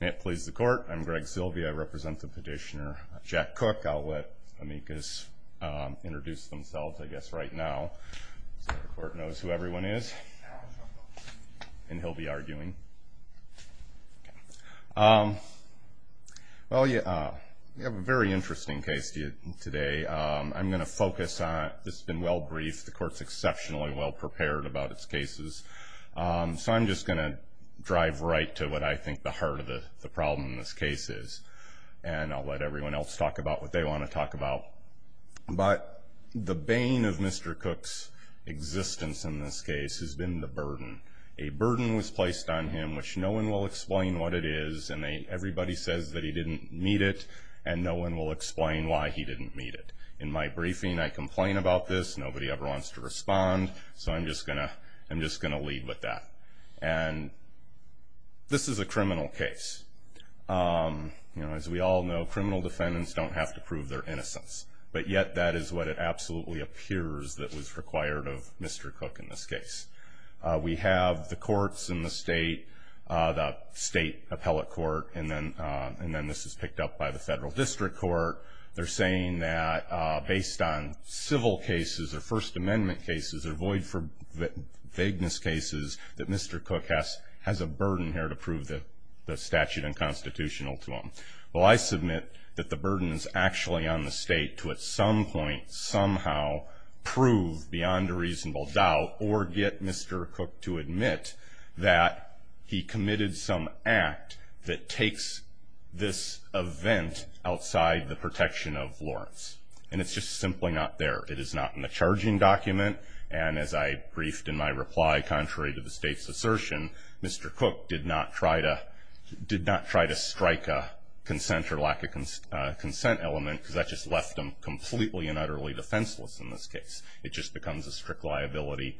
May it please the court, I'm Greg Silvia, I represent the petitioner Jack Cook. I'll let amicus introduce themselves I guess right now so the court knows who everyone is and he'll be arguing. Well you have a very interesting case to you today. I'm going to focus on, this has been well briefed, the court's exceptionally well prepared about its cases. So I'm just going to get right to what I think the heart of the problem in this case is and I'll let everyone else talk about what they want to talk about. But the bane of Mr. Cook's existence in this case has been the burden. A burden was placed on him which no one will explain what it is and everybody says that he didn't need it and no one will explain why he didn't need it. In my briefing I complain about this, nobody ever wants to respond, so I'm just going to lead with that. And this is a criminal case. As we all know criminal defendants don't have to prove their innocence, but yet that is what it absolutely appears that was required of Mr. Cook in this case. We have the courts in the state, the state appellate court, and then this is picked up by the federal district court. They're saying that based on civil cases or First Amendment cases or void for vagueness cases that Mr. Cook has a burden here to prove the statute unconstitutional to him. Well I submit that the burden is actually on the state to at some point somehow prove beyond a reasonable doubt or get And it's just simply not there. It is not in the charging document and as I briefed in my reply contrary to the state's assertion, Mr. Cook did not try to strike a consent or lack of consent element because that just left him completely and utterly defenseless in this case. It just becomes a strict liability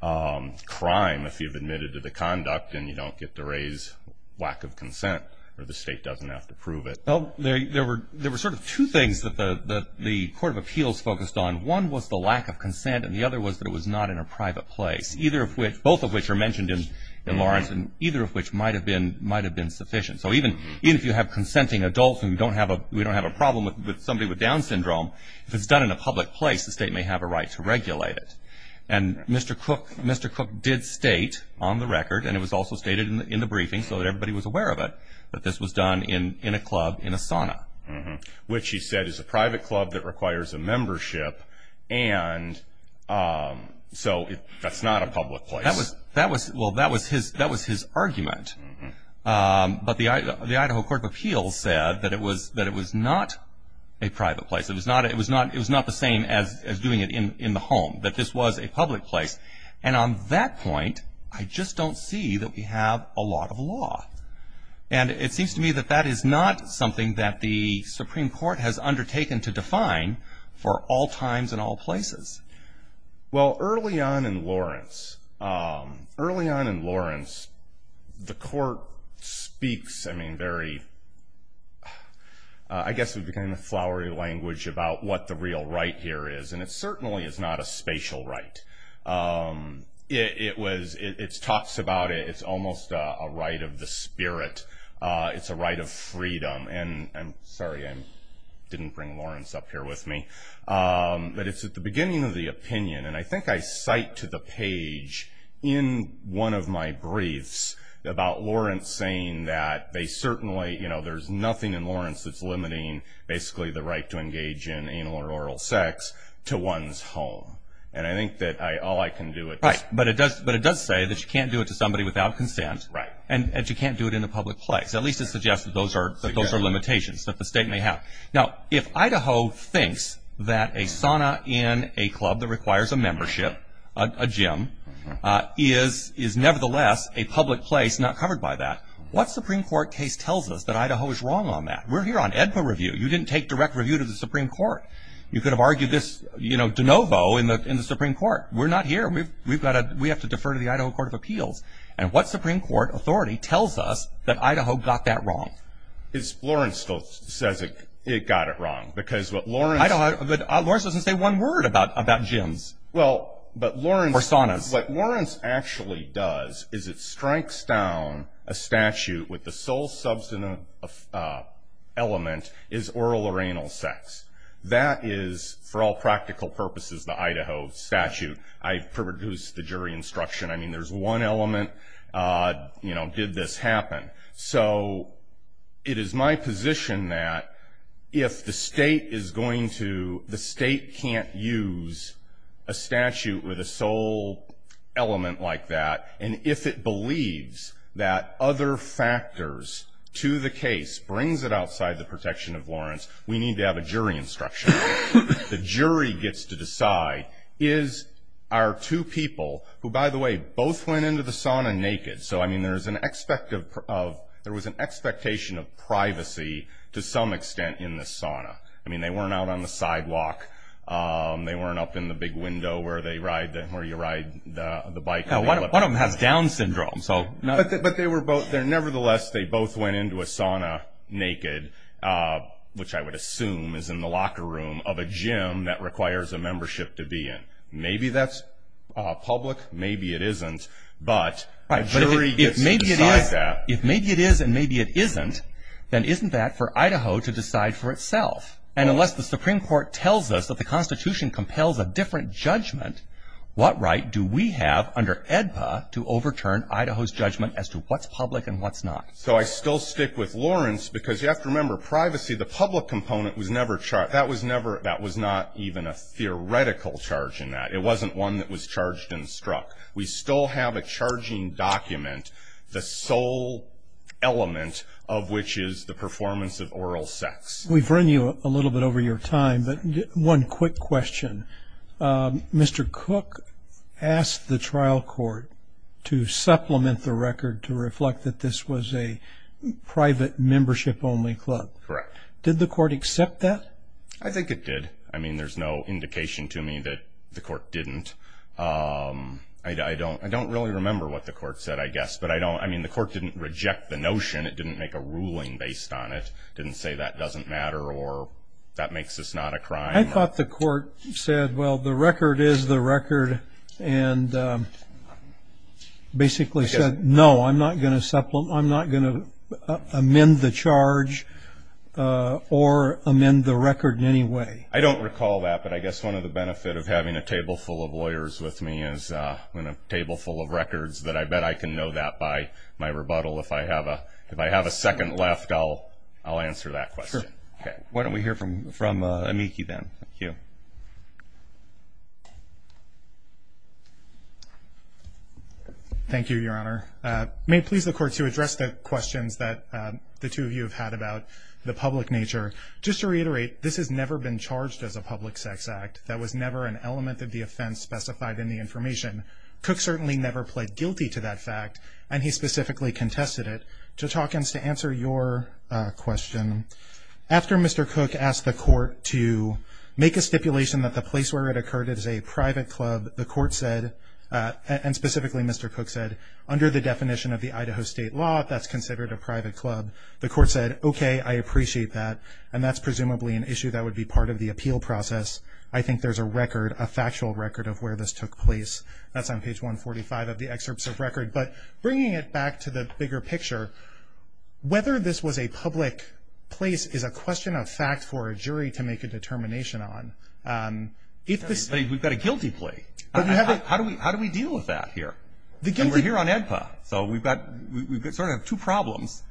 crime if you've admitted to the conduct and you don't get to raise lack of consent or the state doesn't have to prove it. Well there were sort of two things that the Court of Appeals focused on. One was the lack of consent and the other was that it was not in a private place, both of which are mentioned in Lawrence and either of which might have been sufficient. So even if you have consenting adults and we don't have a problem with somebody with Down syndrome, if it's done in a public place the state may have a right to regulate it. And Mr. Cook did state on the record and it was also stated in the briefing so that everybody was aware of it, that this was done in a club, in a sauna. Which he said is a private club that requires a membership and so that's not a public place. Well that was his argument. But the Idaho Court of Appeals said that it was not a private place. It was not the same as doing it in the home, that this was a public place. And on that point I just don't see that we have a And it seems to me that that is not something that the Supreme Court has undertaken to define for all times and all places. Well early on in Lawrence, early on in Lawrence the court speaks I mean very, I guess would be kind of flowery language about what the real right here is and certainly it's not a spatial right. It was, it talks about it, it's almost a right of the spirit. It's a right of freedom and I'm sorry I didn't bring Lawrence up here with me. But it's at the beginning of the opinion and I think I cite to the page in one of my briefs about Lawrence saying that they certainly, you know there's nothing in Lawrence that's limiting basically the right to engage in anal or oral sex to one's home. And I think that all I can do is Right, but it does say that you can't do it to somebody without consent and you can't do it in a public place. At least it suggests that those are limitations that the state may have. Now if Idaho thinks that a sauna in a club that requires a membership, a gym, is nevertheless a public place not covered by that, what Supreme Court case tells us that Idaho is wrong on that? We're here on EDPA review. You didn't take direct review to the Supreme Court. You could have argued this, you know, de novo in the Supreme Court. We're not here. We've got to, we have to defer to the Idaho Court of Appeals. And what Supreme Court authority tells us that Idaho got that wrong? It's Lawrence still says it got it wrong because what Lawrence... I don't, but Lawrence doesn't say one word about gyms. Well, but Lawrence... Or saunas. What Lawrence actually does is it strikes down a statute with the sole substantive element is oral or anal sex. That is, for all practical purposes, the Idaho statute. I've produced the jury instruction. I mean, there's one element, you know, did this happen? So it is my position that if the state is going to, the state can't use a statute with a sole element like that, and if it believes that other factors to the case brings it outside the protection of Lawrence, we need to have a jury instruction. The jury gets to decide, is our two by the way, both went into the sauna naked. So, I mean, there was an expectation of privacy to some extent in the sauna. I mean, they weren't out on the sidewalk. They weren't up in the big window where you ride the bike. Yeah, one of them has down syndrome. But they were both there. Nevertheless, they both went into a sauna naked, which I would assume is the locker room of a gym that requires a membership to be in. Maybe that's public. Maybe it isn't. But a jury gets to decide that. If maybe it is and maybe it isn't, then isn't that for Idaho to decide for itself? And unless the Supreme Court tells us that the Constitution compels a different judgment, what right do we have under AEDPA to overturn Idaho's judgment as to what's public and what's not? So I still stick with Lawrence because you have to remember, privacy, the public component, that was never, that was not even a theoretical charge in that. It wasn't one that was charged and struck. We still have a charging document, the sole element of which is the performance of oral sex. We've run you a little bit over your time, but one quick question. Mr. Cook asked the trial court to supplement the record to reflect that this was a private membership-only club. Correct. Did the court accept that? I think it did. I mean, there's no indication to me that the court didn't. I don't really remember what the court said, I guess. But I mean, the court didn't reject the notion. It didn't make a ruling based on it. It didn't say that doesn't matter or that makes this not a crime. I thought the court said, well, the record is the record and basically said, no, I'm not going to amend the charge or amend the record in any way. I don't recall that, but I guess one of the benefits of having a table full of lawyers with me is when a table full of records that I bet I can know that by my rebuttal. If I have a second left, I'll answer that question. Sure. Why don't we hear from Amiki then? Thank you, Your Honor. May it please the court to address the questions that the two of you have had about the public nature. Just to reiterate, this has never been charged as a public sex act. That was never an element of the offense specified in the information. Cook certainly never pled guilty to that fact, and he specifically contested it. Judge Hawkins, to answer your question, after Mr. Cook asked the court to make a stipulation that the place where it occurred is a private club, the court said, and specifically Mr. Cook said, under the definition of the Idaho state law, that's considered a private club. The court said, okay, I appreciate that, and that's presumably an issue that would be part of the appeal process. I think there's a record, a factual record of where this took place. That's on page 145 of the excerpts of record. Bringing it back to the bigger picture, whether this was a public place is a question of fact for a jury to make a determination on. We've got a guilty plea. How do we deal with that here? We're here on AEDPA, so we've got two problems.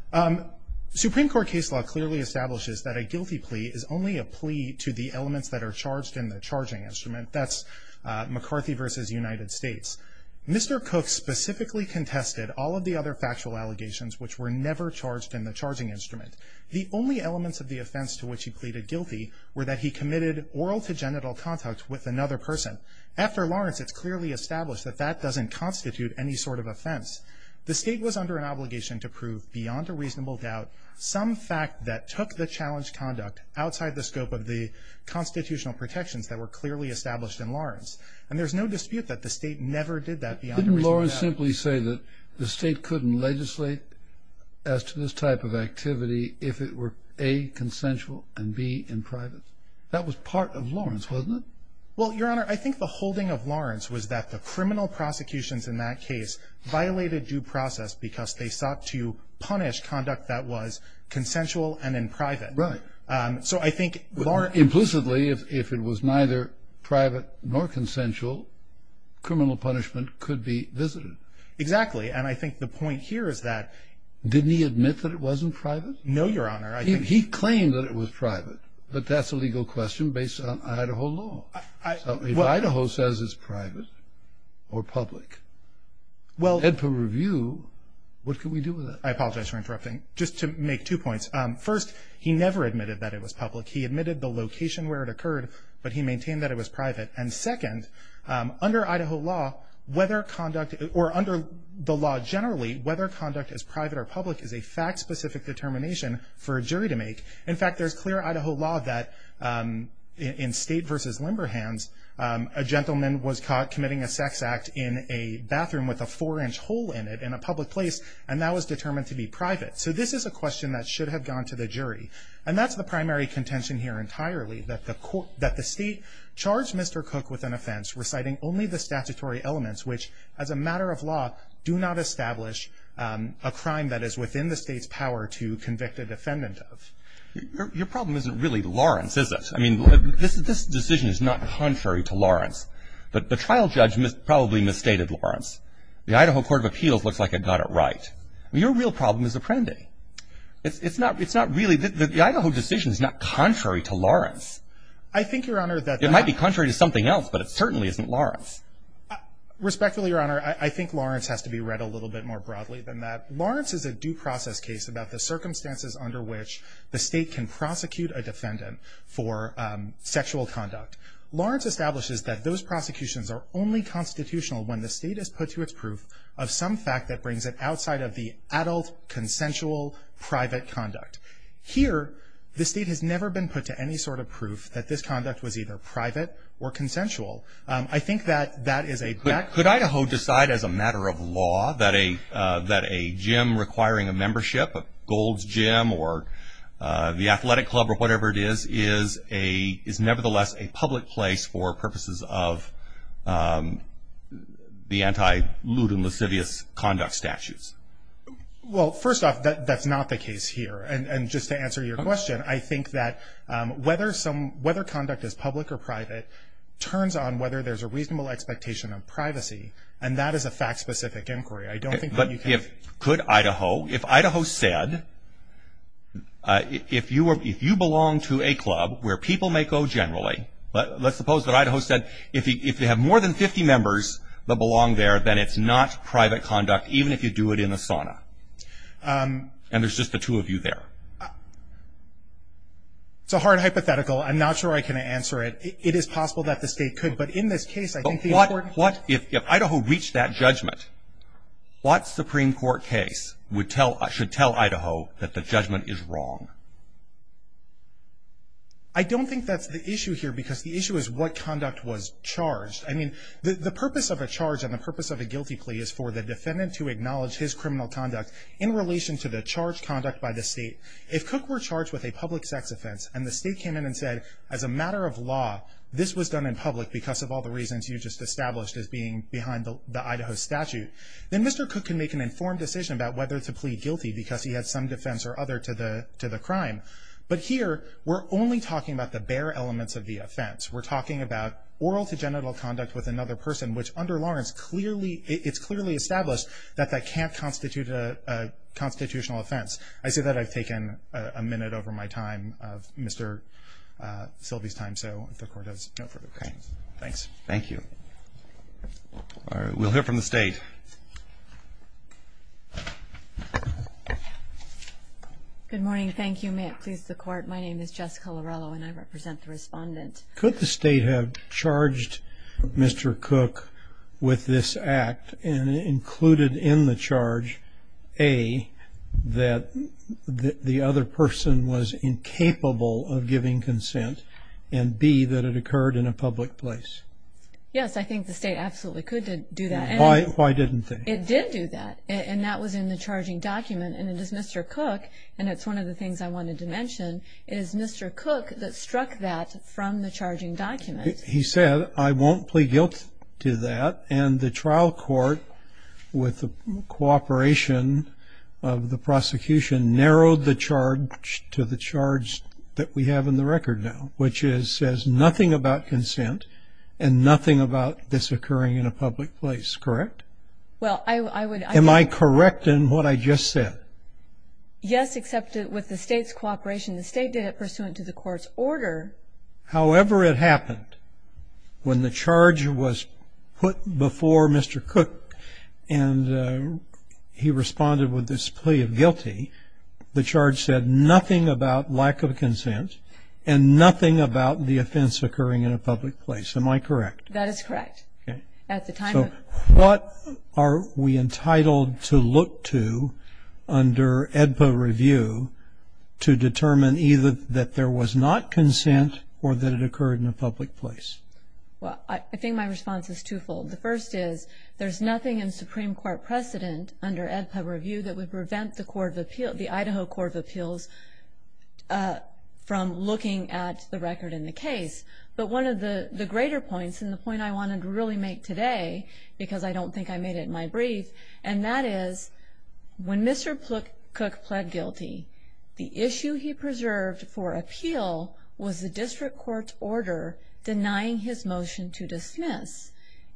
Supreme Court case law clearly establishes that a guilty plea is only a plea to the elements that are charged in the charging instrument. That's McCarthy versus United States. Mr. Cook specifically contested all of the other factual allegations which were never charged in the charging instrument. The only elements of the offense to which he pleaded guilty were that he committed oral to genital contact with another person. After Lawrence, it's clearly established that that doesn't constitute any sort of offense. The state was under an obligation to prove, beyond a reasonable doubt, some fact that took the challenge conduct outside the scope of the constitutional protections that were clearly established in Lawrence. And there's no dispute that the state never did that beyond a reasonable doubt. Couldn't Lawrence simply say that the state couldn't legislate as to this type of activity if it were A, consensual, and B, in private? That was part of Lawrence, wasn't it? Well, Your Honor, I think the holding of Lawrence was that the criminal prosecutions in that case violated due process because they sought to punish conduct that was consensual and in private. Right. So I think Lawrence... Implicitly, if it was neither private nor consensual, criminal punishment could be visited. Exactly. And I think the point here is that... Didn't he admit that it wasn't private? No, Your Honor, I think... He claimed that it was private, but that's a legal question based on Idaho law. I... So if Idaho says it's private or public... Well... And per review, what can we do with that? I apologize for interrupting. Just to make two points. First, he never admitted that it was public. He admitted the location where it occurred, but he maintained that it was private. And second, under Idaho law, whether conduct... Or under the law generally, whether conduct is private or public is a fact-specific determination for a jury to make. In fact, there's clear Idaho law that in state versus limber hands, a gentleman was caught committing a sex act in a bathroom with a four-inch hole in it in a public place, and that was determined to be private. So this is a question that should have gone to the jury. And that's the primary contention here entirely, that the state charged Mr. Cook with an offense reciting only the statutory elements which, as a matter of law, do not establish a crime that is within the state's power to convict a defendant of. Your problem isn't really Lawrence, is it? I mean, this decision is not contrary to Lawrence. But the trial judge probably misstated Lawrence. The Idaho Court of Appeals looks like it got it right. I mean, your real problem is Apprendi. It's not really... The Idaho decision is not contrary to Lawrence. I think, Your Honor, that... It might be contrary to something else, but it certainly isn't Lawrence. Respectfully, Your Honor, I think Lawrence has to be read a little bit more broadly than that. Lawrence is a due process case about the circumstances under which the state can prosecute a defendant for sexual conduct. Lawrence establishes that those prosecutions are only constitutional when the state has put to its proof of some fact that brings it outside of the adult, consensual, private conduct. Here, the state has never been put to any sort of proof that this conduct was either private or consensual. I think that that is a... But could Idaho decide as a matter of law that a gym requiring a membership, a golds gym or the athletic club or whatever it is, is nevertheless a public place for purposes of the anti-lewd and lascivious conduct statutes? Well, first off, that's not the case here. And just to answer your question, I think that whether some... Whether conduct is public or private turns on whether there's a reasonable expectation of privacy, and that is a fact-specific inquiry. I don't think that you can... But if... Could Idaho... If Idaho said, if you belong to a club where people may go generally, but let's suppose that Idaho said, if you have more than 50 members that belong there, then it's not private conduct, even if you do it in a sauna. And there's just the two of you there. It's a hard hypothetical. I'm not sure I can answer it. It is possible that the state could, but in this case, I think the important... But what... If Idaho reached that judgment, what Supreme Court case should tell Idaho that the judgment is wrong? I don't think that's the issue here, because the issue is what conduct was charged. I mean, the purpose of a charge and the purpose of a guilty plea is for the defendant to acknowledge his criminal conduct in relation to the charged conduct by the state. If Cook were charged with a public sex offense, and the state came in and said, as a matter of law, this was done in public because of all the reasons you just established as being behind the Idaho statute, then Mr. Cook can make an informed decision about whether to plead guilty because he had some defense or other to the crime. But here, we're only talking about the bare elements of the offense. We're talking about oral to genital conduct with another person, which under Lawrence, it's clearly established that that can't constitute a constitutional offense. I say that, I've taken a minute over my time of Mr. Silvey's time, so if the court has no further questions. Thanks. Thank you. We'll hear from the state. Good morning. Thank you. May it please the court, my name is Jessica Lorello and I represent the respondent. Could the state have charged Mr. Cook with this act and included in the charge, A, that the other person was incapable of giving consent, and B, that it occurred in a public place? Yes, I think the state absolutely could do that. Why didn't they? It did do that, and that was in the charging document, and it is Mr. Cook, and it's one of the things I wanted to mention, it is Mr. Cook that struck that from the charging document. He said, I won't plead guilt to that, and the trial court, with the cooperation of the prosecution, narrowed the charge to the charge that we have in the record now, which says nothing about consent and nothing about this occurring in a public place, correct? Well, I would Am I correct in what I just said? Yes, except with the state's cooperation, the state did it pursuant to the court's order. However it happened, when the charge was put before Mr. Cook, and he responded with this plea of guilty, the charge said nothing about lack of consent and nothing about the offense occurring in a public place. Am I correct? That is correct. Okay. At the time of what are we entitled to look to under AEDPA review to determine either that there was not consent or that it occurred in a public place? Well, I think my response is twofold. The first is, there's nothing in Supreme Court precedent under AEDPA review that would prevent the Idaho Court of Appeals from looking at the record in the case, but one of the greater points, and the point I wanted to really make today, because I don't think I made it in my brief, and that is, when Mr. Cook pled guilty, the issue he preserved for appeal was the district court's order denying his motion to dismiss.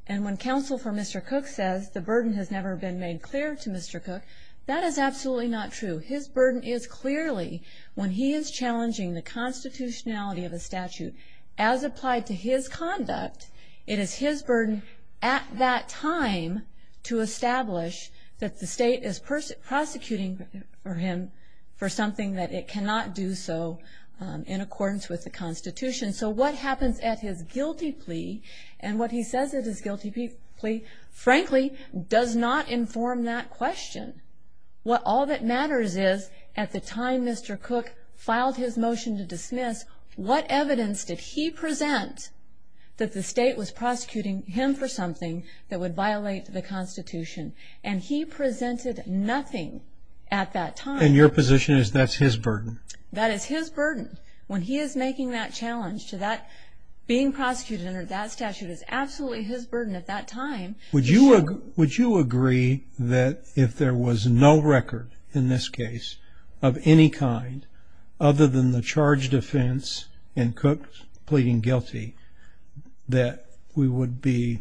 And when counsel for Mr. Cook says the burden has never been made clear to Mr. Cook, that is absolutely not true. His burden is clearly, when he is challenging the constitutionality of a statute as applied to his conduct, it is his burden at that time to establish that the state is prosecuting for him for something that it cannot do so in accordance with the constitution. So what happens at his guilty plea, and what he says at his guilty plea, frankly, does not inform that question. What all that matters is, at the time Mr. Cook filed his motion to dismiss, what evidence did he present that the state was prosecuting him for something that would violate the constitution? And he presented nothing at that time. And your position is that's his burden? That is his burden. When he is making that challenge to that, being prosecuted under that statute is absolutely his burden at that time. Would you agree that if there was no record, in this case, of any kind, other than the charge, defense, and Cook pleading guilty, that we would be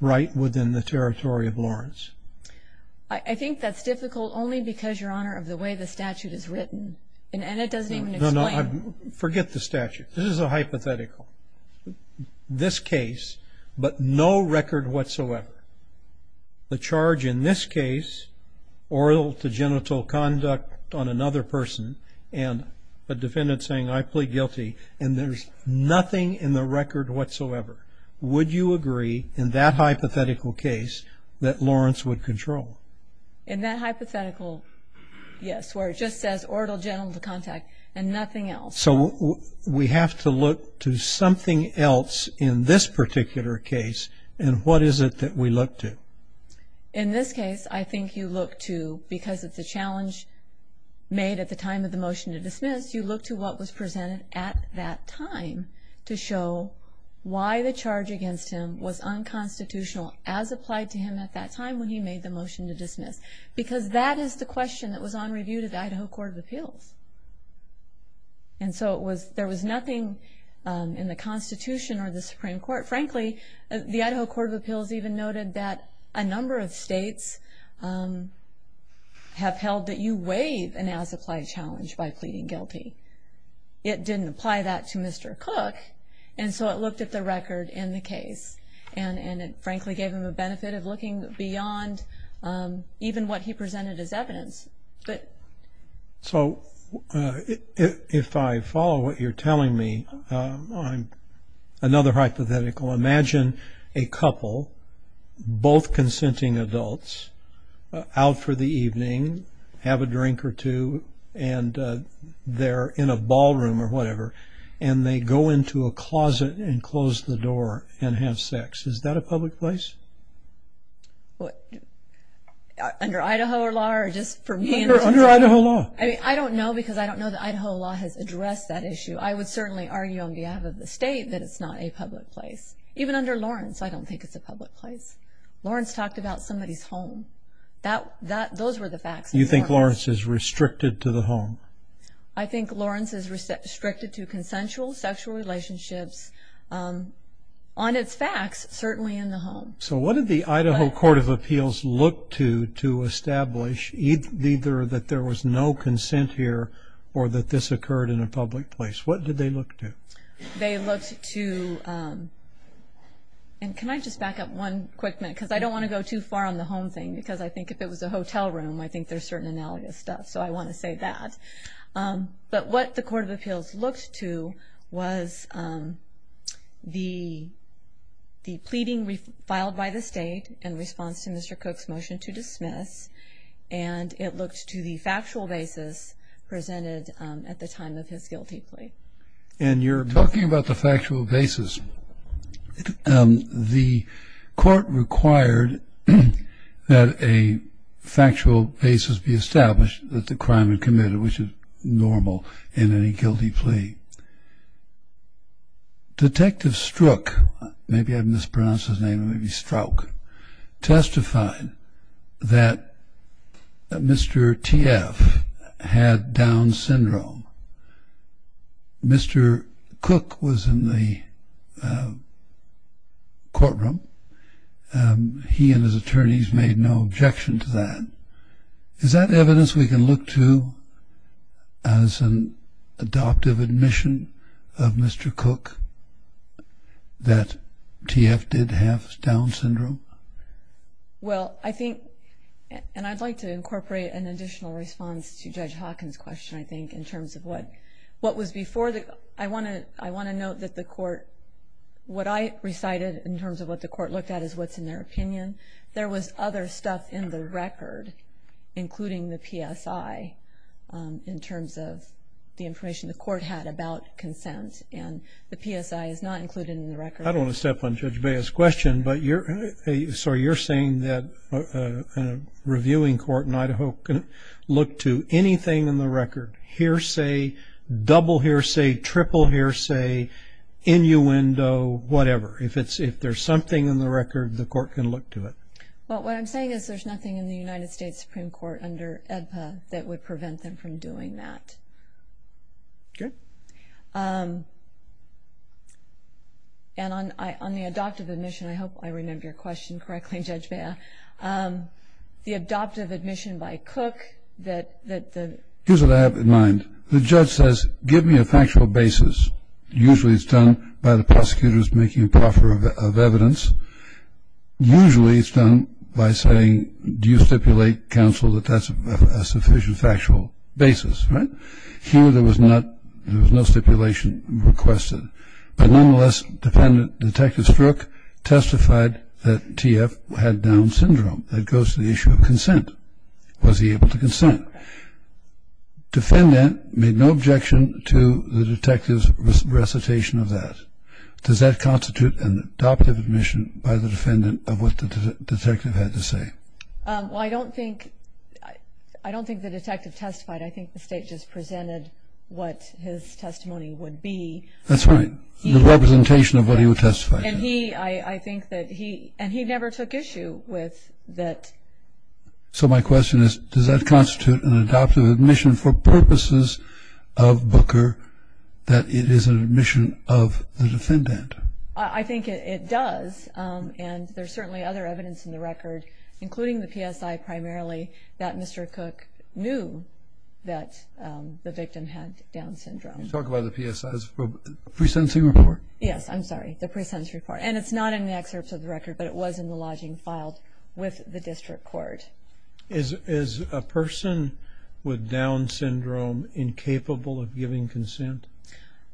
right within the territory of Lawrence? I think that's difficult only because, Your Honor, of the way the statute is written. And it doesn't even explain it. Forget the statute. This is a hypothetical. This case, but no record whatsoever. The charge in this case, oral to genital conduct on another person, and the defendant saying, I plead guilty, and there's nothing in the record whatsoever. Would you agree, in that hypothetical case, that Lawrence would control? In that hypothetical, yes, where it just says oral genital contact and nothing else. So we have to look to something else in this particular case. And what is it that we look to? In this case, I think you look to, because it's a challenge made at the time of the motion to dismiss, you look to what was presented at that time to show why the charge against him was unconstitutional as applied to him at that time when he made the motion to dismiss. Because that is the question that was on review to the Idaho Court of Appeals. And so it was, there was nothing in the Constitution or the Supreme Court, frankly, the Idaho Court of Appeals even noted that a number of states have held that you waive an as-applied challenge by pleading guilty. It didn't apply that to Mr. Cook. And so it looked at the record in the case. And it frankly gave him a benefit of looking beyond even what he presented as evidence. But... So if I follow what you're telling me, another hypothetical, imagine a couple, both consenting adults, out for the evening, have a drink or two, and they're in a ballroom or whatever, and they go into a closet and close the door and have sex. Is that a public place? What, under Idaho law or just for me? Under Idaho law. I mean, I don't know because I don't know that Idaho law has addressed that issue. I would certainly argue on behalf of the state that it's not a public place. Even under Lawrence, I don't think it's a public place. Lawrence talked about somebody's home. That, those were the facts. You think Lawrence is restricted to the home? I think Lawrence is restricted to consensual sexual relationships on its facts, certainly in the home. So what did the Idaho Court of Appeals look to to establish either that there was no consent here or that this occurred in a public place? What did they look to? They looked to, and can I just back up one quick minute? Because I don't want to go too far on the home thing, because I think if it was a hotel room, I think there's certain analogous stuff. So I want to say that. But what the Court of Appeals looked to was the pleading filed by the state in response to Mr. Cook's motion to dismiss, and it looked to the factual basis presented at the time of his guilty plea. And you're talking about the factual basis. The court required that a factual basis be established that the crime had committed, which is normal in any guilty plea. Detective Struck, maybe I mispronounced his name, maybe Struck, testified that Mr. T.F. had Down syndrome. Mr. Cook was in the courtroom. He and his attorneys made no objection to that. Is that evidence we can look to as an adoptive admission of Mr. Cook that T.F. did have Down syndrome? Well, I think, and I'd like to incorporate an additional response to Judge Hawkins' question, I think, in terms of what was before the, I want to note that the court, what I recited in terms of what the court looked at is what's in their opinion. There was other stuff in the record, including the PSI, in terms of the information the court had about consent, and the PSI is not included in the record. I don't want to step on Judge Bea's question, but you're, sorry, you're saying that a reviewing court in Idaho can look to anything in the record, hearsay, double hearsay, triple hearsay, innuendo, whatever. If it's, if there's something in the record, the court can look to it. Well, what I'm saying is there's nothing in the United States Supreme Court under AEDPA that would prevent them from doing that. Okay. And on the adoptive admission, I hope I remember your question correctly, Judge Bea, the adoptive admission by Cook that the- Here's what I have in mind. The judge says, give me a factual basis. Usually, it's done by the prosecutors making a proffer of evidence. Usually, it's done by saying, do you stipulate, counsel, that that's a sufficient factual basis, right? Here, there was not, there was no stipulation requested. But nonetheless, defendant, Detective Strook, testified that T.F. had Down syndrome. That goes to the issue of consent. Was he able to consent? No. Defendant made no objection to the detective's recitation of that. Does that constitute an adoptive admission by the defendant of what the detective had to say? Well, I don't think, I don't think the detective testified. I think the state just presented what his testimony would be. That's right. The representation of what he would testify. And he, I think that he, and he never took issue with that. So, my question is, does that constitute an adoptive admission for purposes of Booker that it is an admission of the defendant? I think it does. And there's certainly other evidence in the record, including the PSI, primarily, that Mr. Cook knew that the victim had Down syndrome. You're talking about the PSI, the pre-sentencing report? Yes, I'm sorry, the pre-sentence report. And it's not in the excerpts of the record, but it was in the lodging filed with the district court. Is a person with Down syndrome incapable of giving consent?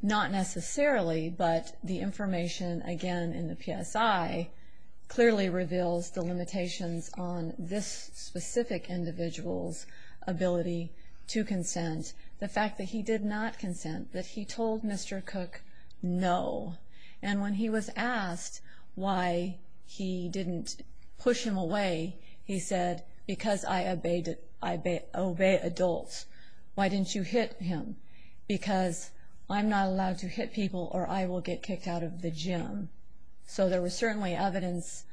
Not necessarily, but the information, again, in the PSI, clearly reveals the limitations on this specific individual's ability to consent. The fact that he did not consent, that he told Mr. Cook no. And when he was asked why he didn't push him away, he said, because I obey adults, why didn't you hit him? Because I'm not allowed to hit people or I will get kicked out of the gym. So, there was certainly evidence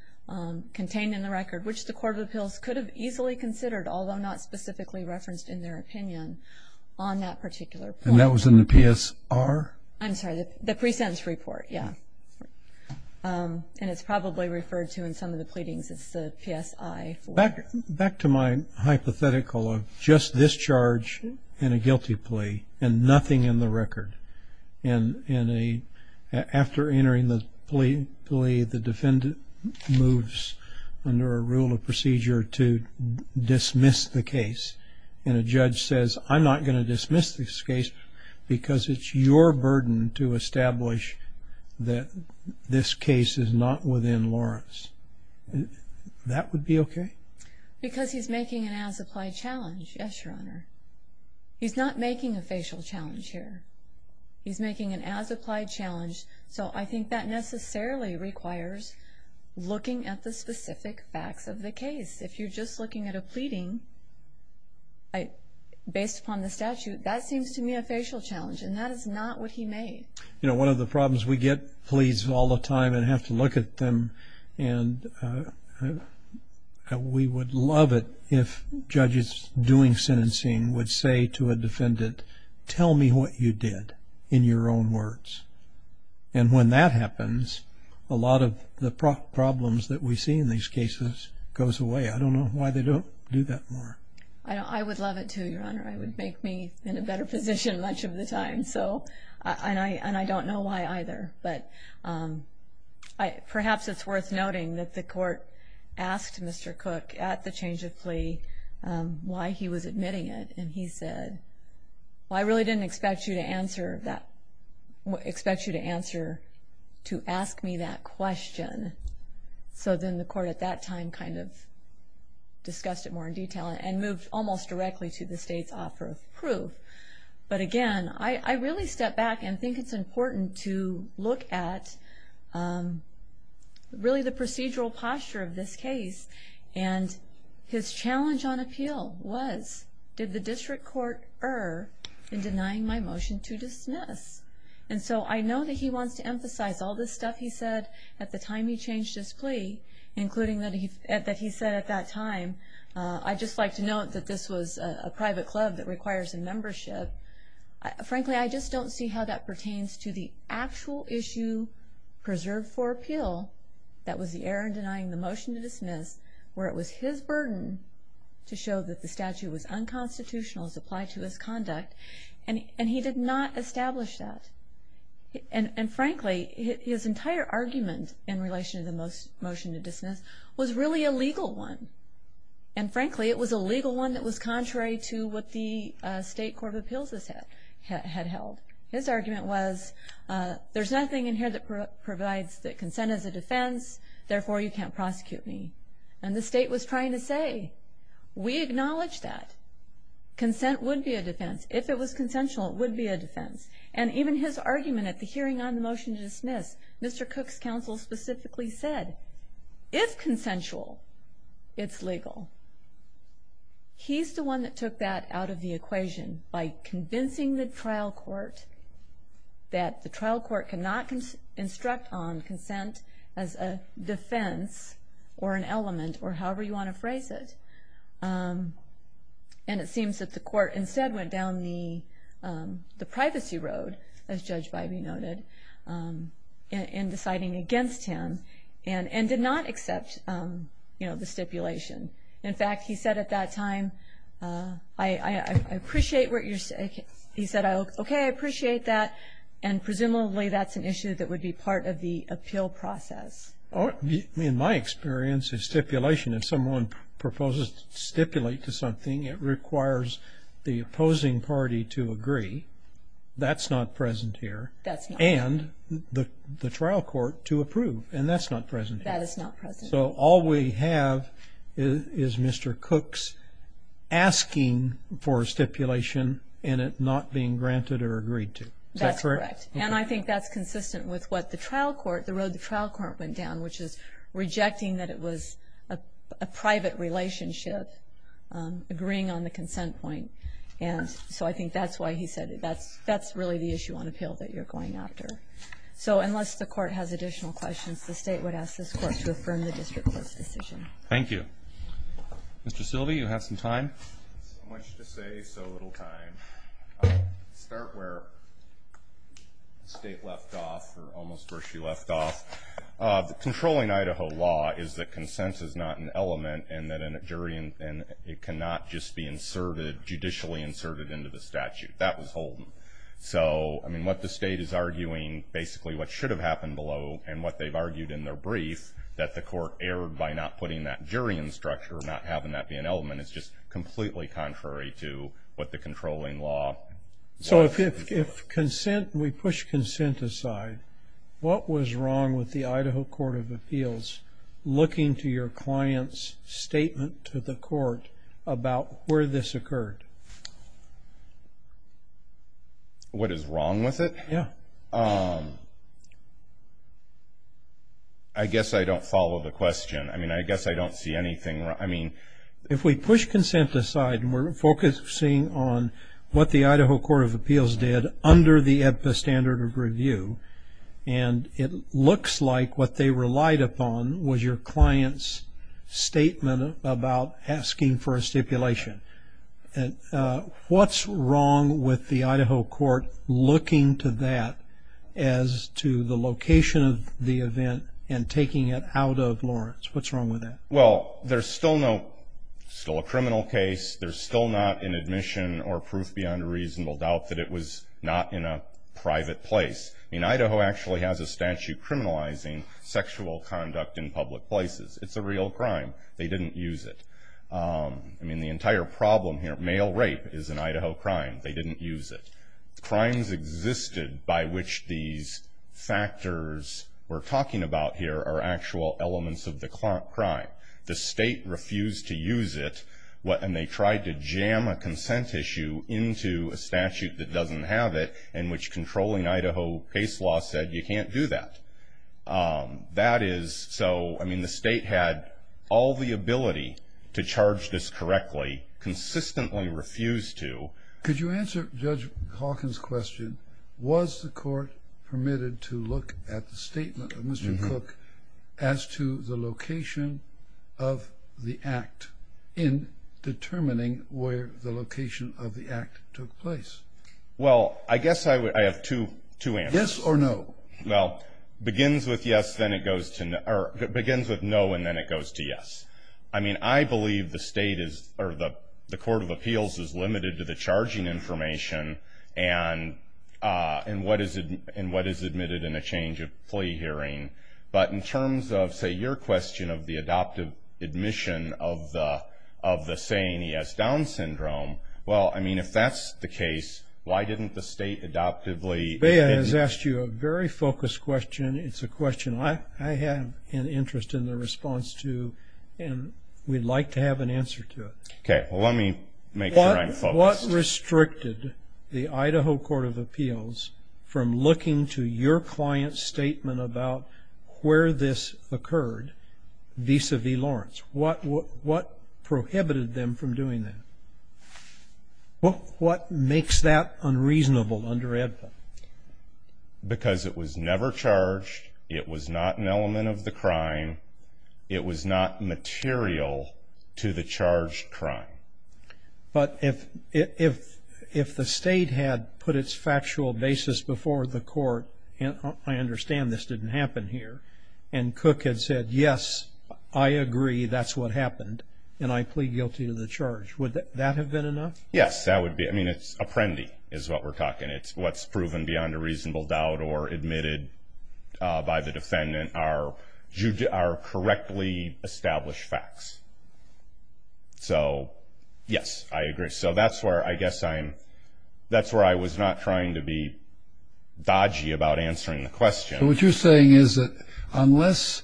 contained in the record, which the Court of Appeals could have easily considered, although not specifically referenced in their opinion on that particular point. And that was in the PSR? I'm sorry, the pre-sentence report, yeah. And it's probably referred to in some of the pleadings, it's the PSI. Back to my hypothetical of just this charge and a guilty plea and nothing in the record. And after entering the plea, the defendant moves under a rule of procedure to dismiss the case. And a judge says, I'm not going to dismiss this case because it's your burden to establish that this case is not within Lawrence. That would be okay? Because he's making an as-applied challenge, yes, Your Honor. He's not making a facial challenge here. He's making an as-applied challenge. So, I think that necessarily requires looking at the specific facts of the case. If you're just looking at a pleading based upon the statute, that seems to me a facial challenge. And that is not what he made. You know, one of the problems we get, pleads all the time and have to look at them. And we would love it if judges doing sentencing would say to a defendant, tell me what you did in your own words. And when that happens, a lot of the problems that we see in these cases goes away. I don't know why they don't do that more. I would love it too, Your Honor. I would make me in a better position much of the time. So, and I don't know why either. But perhaps it's worth noting that the court asked Mr. Cook at the change of plea why he was admitting it. And he said, well, I really didn't expect you to answer that, expect you to answer, to ask me that question. So then the court at that time kind of discussed it more in detail and moved almost directly to the state's offer of proof. But again, I really step back and think it's important to look at really the procedural posture of this case. And his challenge on appeal was, did the district court err in denying my motion to dismiss? And so I know that he wants to emphasize all this stuff he said at the time he changed his plea, including that he said at that time, I'd just like to note that this was a private club that requires a membership. Frankly, I just don't see how that pertains to the actual issue preserved for appeal. That was the error in denying the motion to dismiss, where it was his burden to show that the statute was unconstitutional as applied to his conduct. And he did not establish that. And frankly, his entire argument in relation to the motion to dismiss was really a legal one. And frankly, it was a legal one that was contrary to what the state court of appeals had held. His argument was, there's nothing in here that provides that consent is a defense. Therefore, you can't prosecute me. And the state was trying to say, we acknowledge that. Consent would be a defense. If it was consensual, it would be a defense. And even his argument at the hearing on the motion to dismiss, Mr. Cook's counsel specifically said, if consensual, it's legal. He's the one that took that out of the equation by convincing the trial court that the trial court cannot instruct on consent as a defense or an element or however you want to phrase it. And it seems that the court instead went down the privacy road, as Judge Bybee noted, in deciding against him and did not accept, you know, the stipulation. In fact, he said at that time, I appreciate what you're saying. He said, okay, I appreciate that. And presumably, that's an issue that would be part of the appeal process. In my experience, a stipulation, if someone proposes to stipulate to something, it requires the opposing party to agree. That's not present here. That's not. And the trial court to approve. And that's not present here. That is not present. So all we have is Mr. Cook's asking for a stipulation and it not being granted or agreed to. That's correct. And I think that's consistent with what the trial court, the road the trial court went down, which is rejecting that it was a private relationship, agreeing on the consent point. And so I think that's why he said that's really the issue on appeal that you're going after. So unless the court has additional questions, the state would ask this court to affirm the district court's decision. Thank you. Mr. Silvey, you have some time. So much to say, so little time. I'll start where the state left off, or almost where she left off. The controlling Idaho law is that consent is not an element and that a jury and it cannot just be inserted, judicially inserted into the statute. That was Holden. So I mean, what the state is arguing, basically what should have happened below and what they've argued in their brief, that the court erred by not putting that jury in structure or not having that be an element, it's just completely contrary to what the controlling law. So if consent, we push consent aside, what was wrong with the Idaho Court of Appeals looking to your client's statement to the court about where this occurred? What is wrong with it? Yeah. I guess I don't follow the question. I mean, I guess I don't see anything wrong. If we push consent aside, and we're focusing on what the Idaho Court of Appeals did under the EBPA standard of review, and it looks like what they relied upon was your client's statement about asking for a stipulation. What's wrong with the Idaho Court looking to that as to the location of the event and taking it out of Lawrence? What's wrong with that? Well, there's still no, still a criminal case. There's still not an admission or proof beyond a reasonable doubt that it was not in a private place. I mean, Idaho actually has a statute criminalizing sexual conduct in public places. It's a real crime. They didn't use it. I mean, the entire problem here, male rape is an Idaho crime. They didn't use it. Crimes existed by which these factors we're talking about here are actual elements of the crime. The state refused to use it. And they tried to jam a consent issue into a statute that doesn't have it, in which controlling Idaho case law said, you can't do that. That is, so, I mean, the state had all the ability to charge this correctly, consistently refused to. Could you answer Judge Hawkins' question? Was the court permitted to look at the statement of Mr. Cook as to the location of the act in determining where the location of the act took place? Well, I guess I have two answers. Yes or no? Well, begins with yes, then it goes to, or begins with no, and then it goes to yes. I mean, I believe the state is, or the court of appeals is limited to the charging information and what is admitted in a change of plea hearing. But in terms of, say, your question of the adoptive admission of the saying he has Down syndrome, well, I mean, if that's the case, why didn't the state adoptively? Bea has asked you a very focused question. It's a question I have an interest in the response to, and we'd like to have an answer to it. Okay, well, let me make sure I'm focused. What restricted the Idaho court of appeals from looking to your client's statement about where this occurred vis-a-vis Lawrence? What prohibited them from doing that? What makes that unreasonable under EDPA? Because it was never charged. It was not an element of the crime. It was not material to the charged crime. But if the state had put its factual basis before the court, and I understand this didn't happen here, and Cook had said, yes, I agree, that's what happened, and I plead guilty to the charge, would that have been enough? Yes, that would be, I mean, it's apprendi is what we're talking. It's what's proven beyond a reasonable doubt or admitted by the defendant are correctly established facts. So, yes, I agree. So that's where I guess I'm, that's where I was not trying to be dodgy about answering the question. So what you're saying is that unless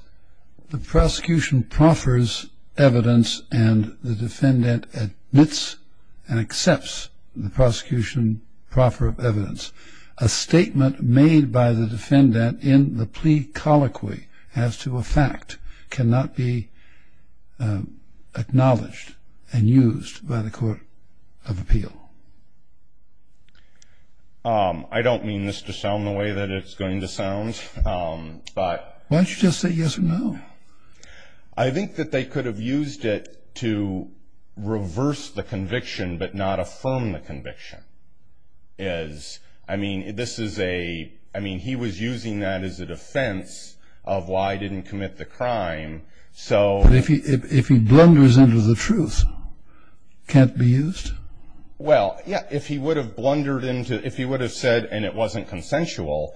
the prosecution proffers evidence and the defendant admits and accepts the prosecution proffer of evidence, a statement made by the defendant in the plea colloquy as to a fact cannot be acknowledged and used by the court of appeal. I don't mean this to sound the way that it's going to sound, but... Why don't you just say yes or no? I think that they could have used it to reverse the conviction but not affirm the conviction. As, I mean, this is a, I mean, he was using that as a defense of why I didn't commit the crime, so... But if he blunders into the truth, can't it be used? Well, yeah, if he would have blundered into, if he would have said and it wasn't consensual...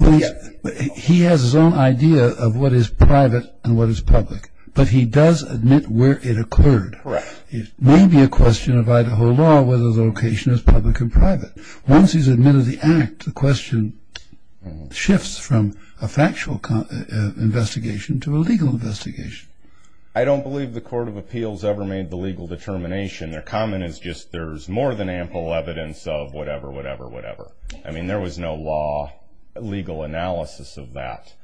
He has his own idea of what is private and what is public, but he does admit where it occurred. Correct. It may be a question of Idaho law whether the location is public and private. Once he's admitted the act, the question shifts from a factual investigation to a legal investigation. I don't believe the court of appeals ever made the legal determination. Their comment is just, there's more than ample evidence of whatever, whatever, whatever. I mean, there was no law, legal analysis of that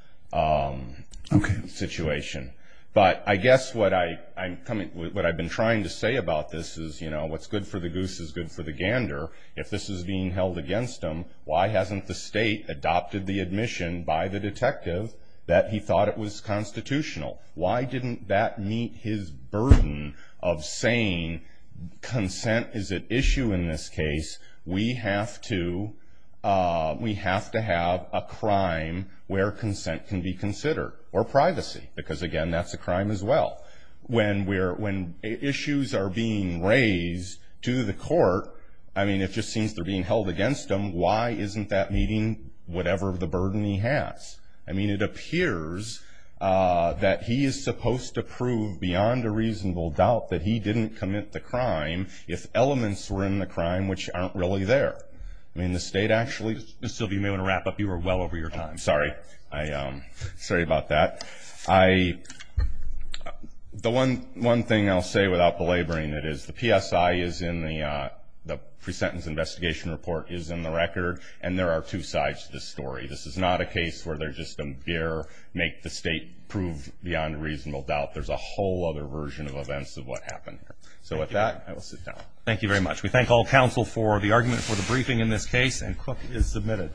situation. But I guess what I'm coming, what I've been trying to say about this is, you know, what's good for the goose is good for the gander. If this is being held against them, why hasn't the state adopted the admission by the detective that he thought it was constitutional? Why didn't that meet his burden of saying, consent is at issue in this case. We have to, we have to have a crime where consent can be considered, or privacy, because again, that's a crime as well. When we're, when issues are being raised to the court, I mean, it just seems they're being held against them. Why isn't that meeting whatever the burden he has? I mean, it appears that he is supposed to prove beyond a reasonable doubt that he didn't commit the crime if elements were in the crime, which aren't really there. I mean, the state actually, Mr. Silby, you may want to wrap up. You were well over your time. Sorry. I, sorry about that. I, the one, one thing I'll say without belaboring it is, the PSI is in the, the pre-sentence investigation report is in the record, and there are two sides to this story. This is not a case where they're just going to bear, make the state prove beyond a reasonable doubt. There's a whole other version of events of what happened here. So with that, I will sit down. Thank you very much. We thank all counsel for the argument for the briefing in this case, and Cook is submitted.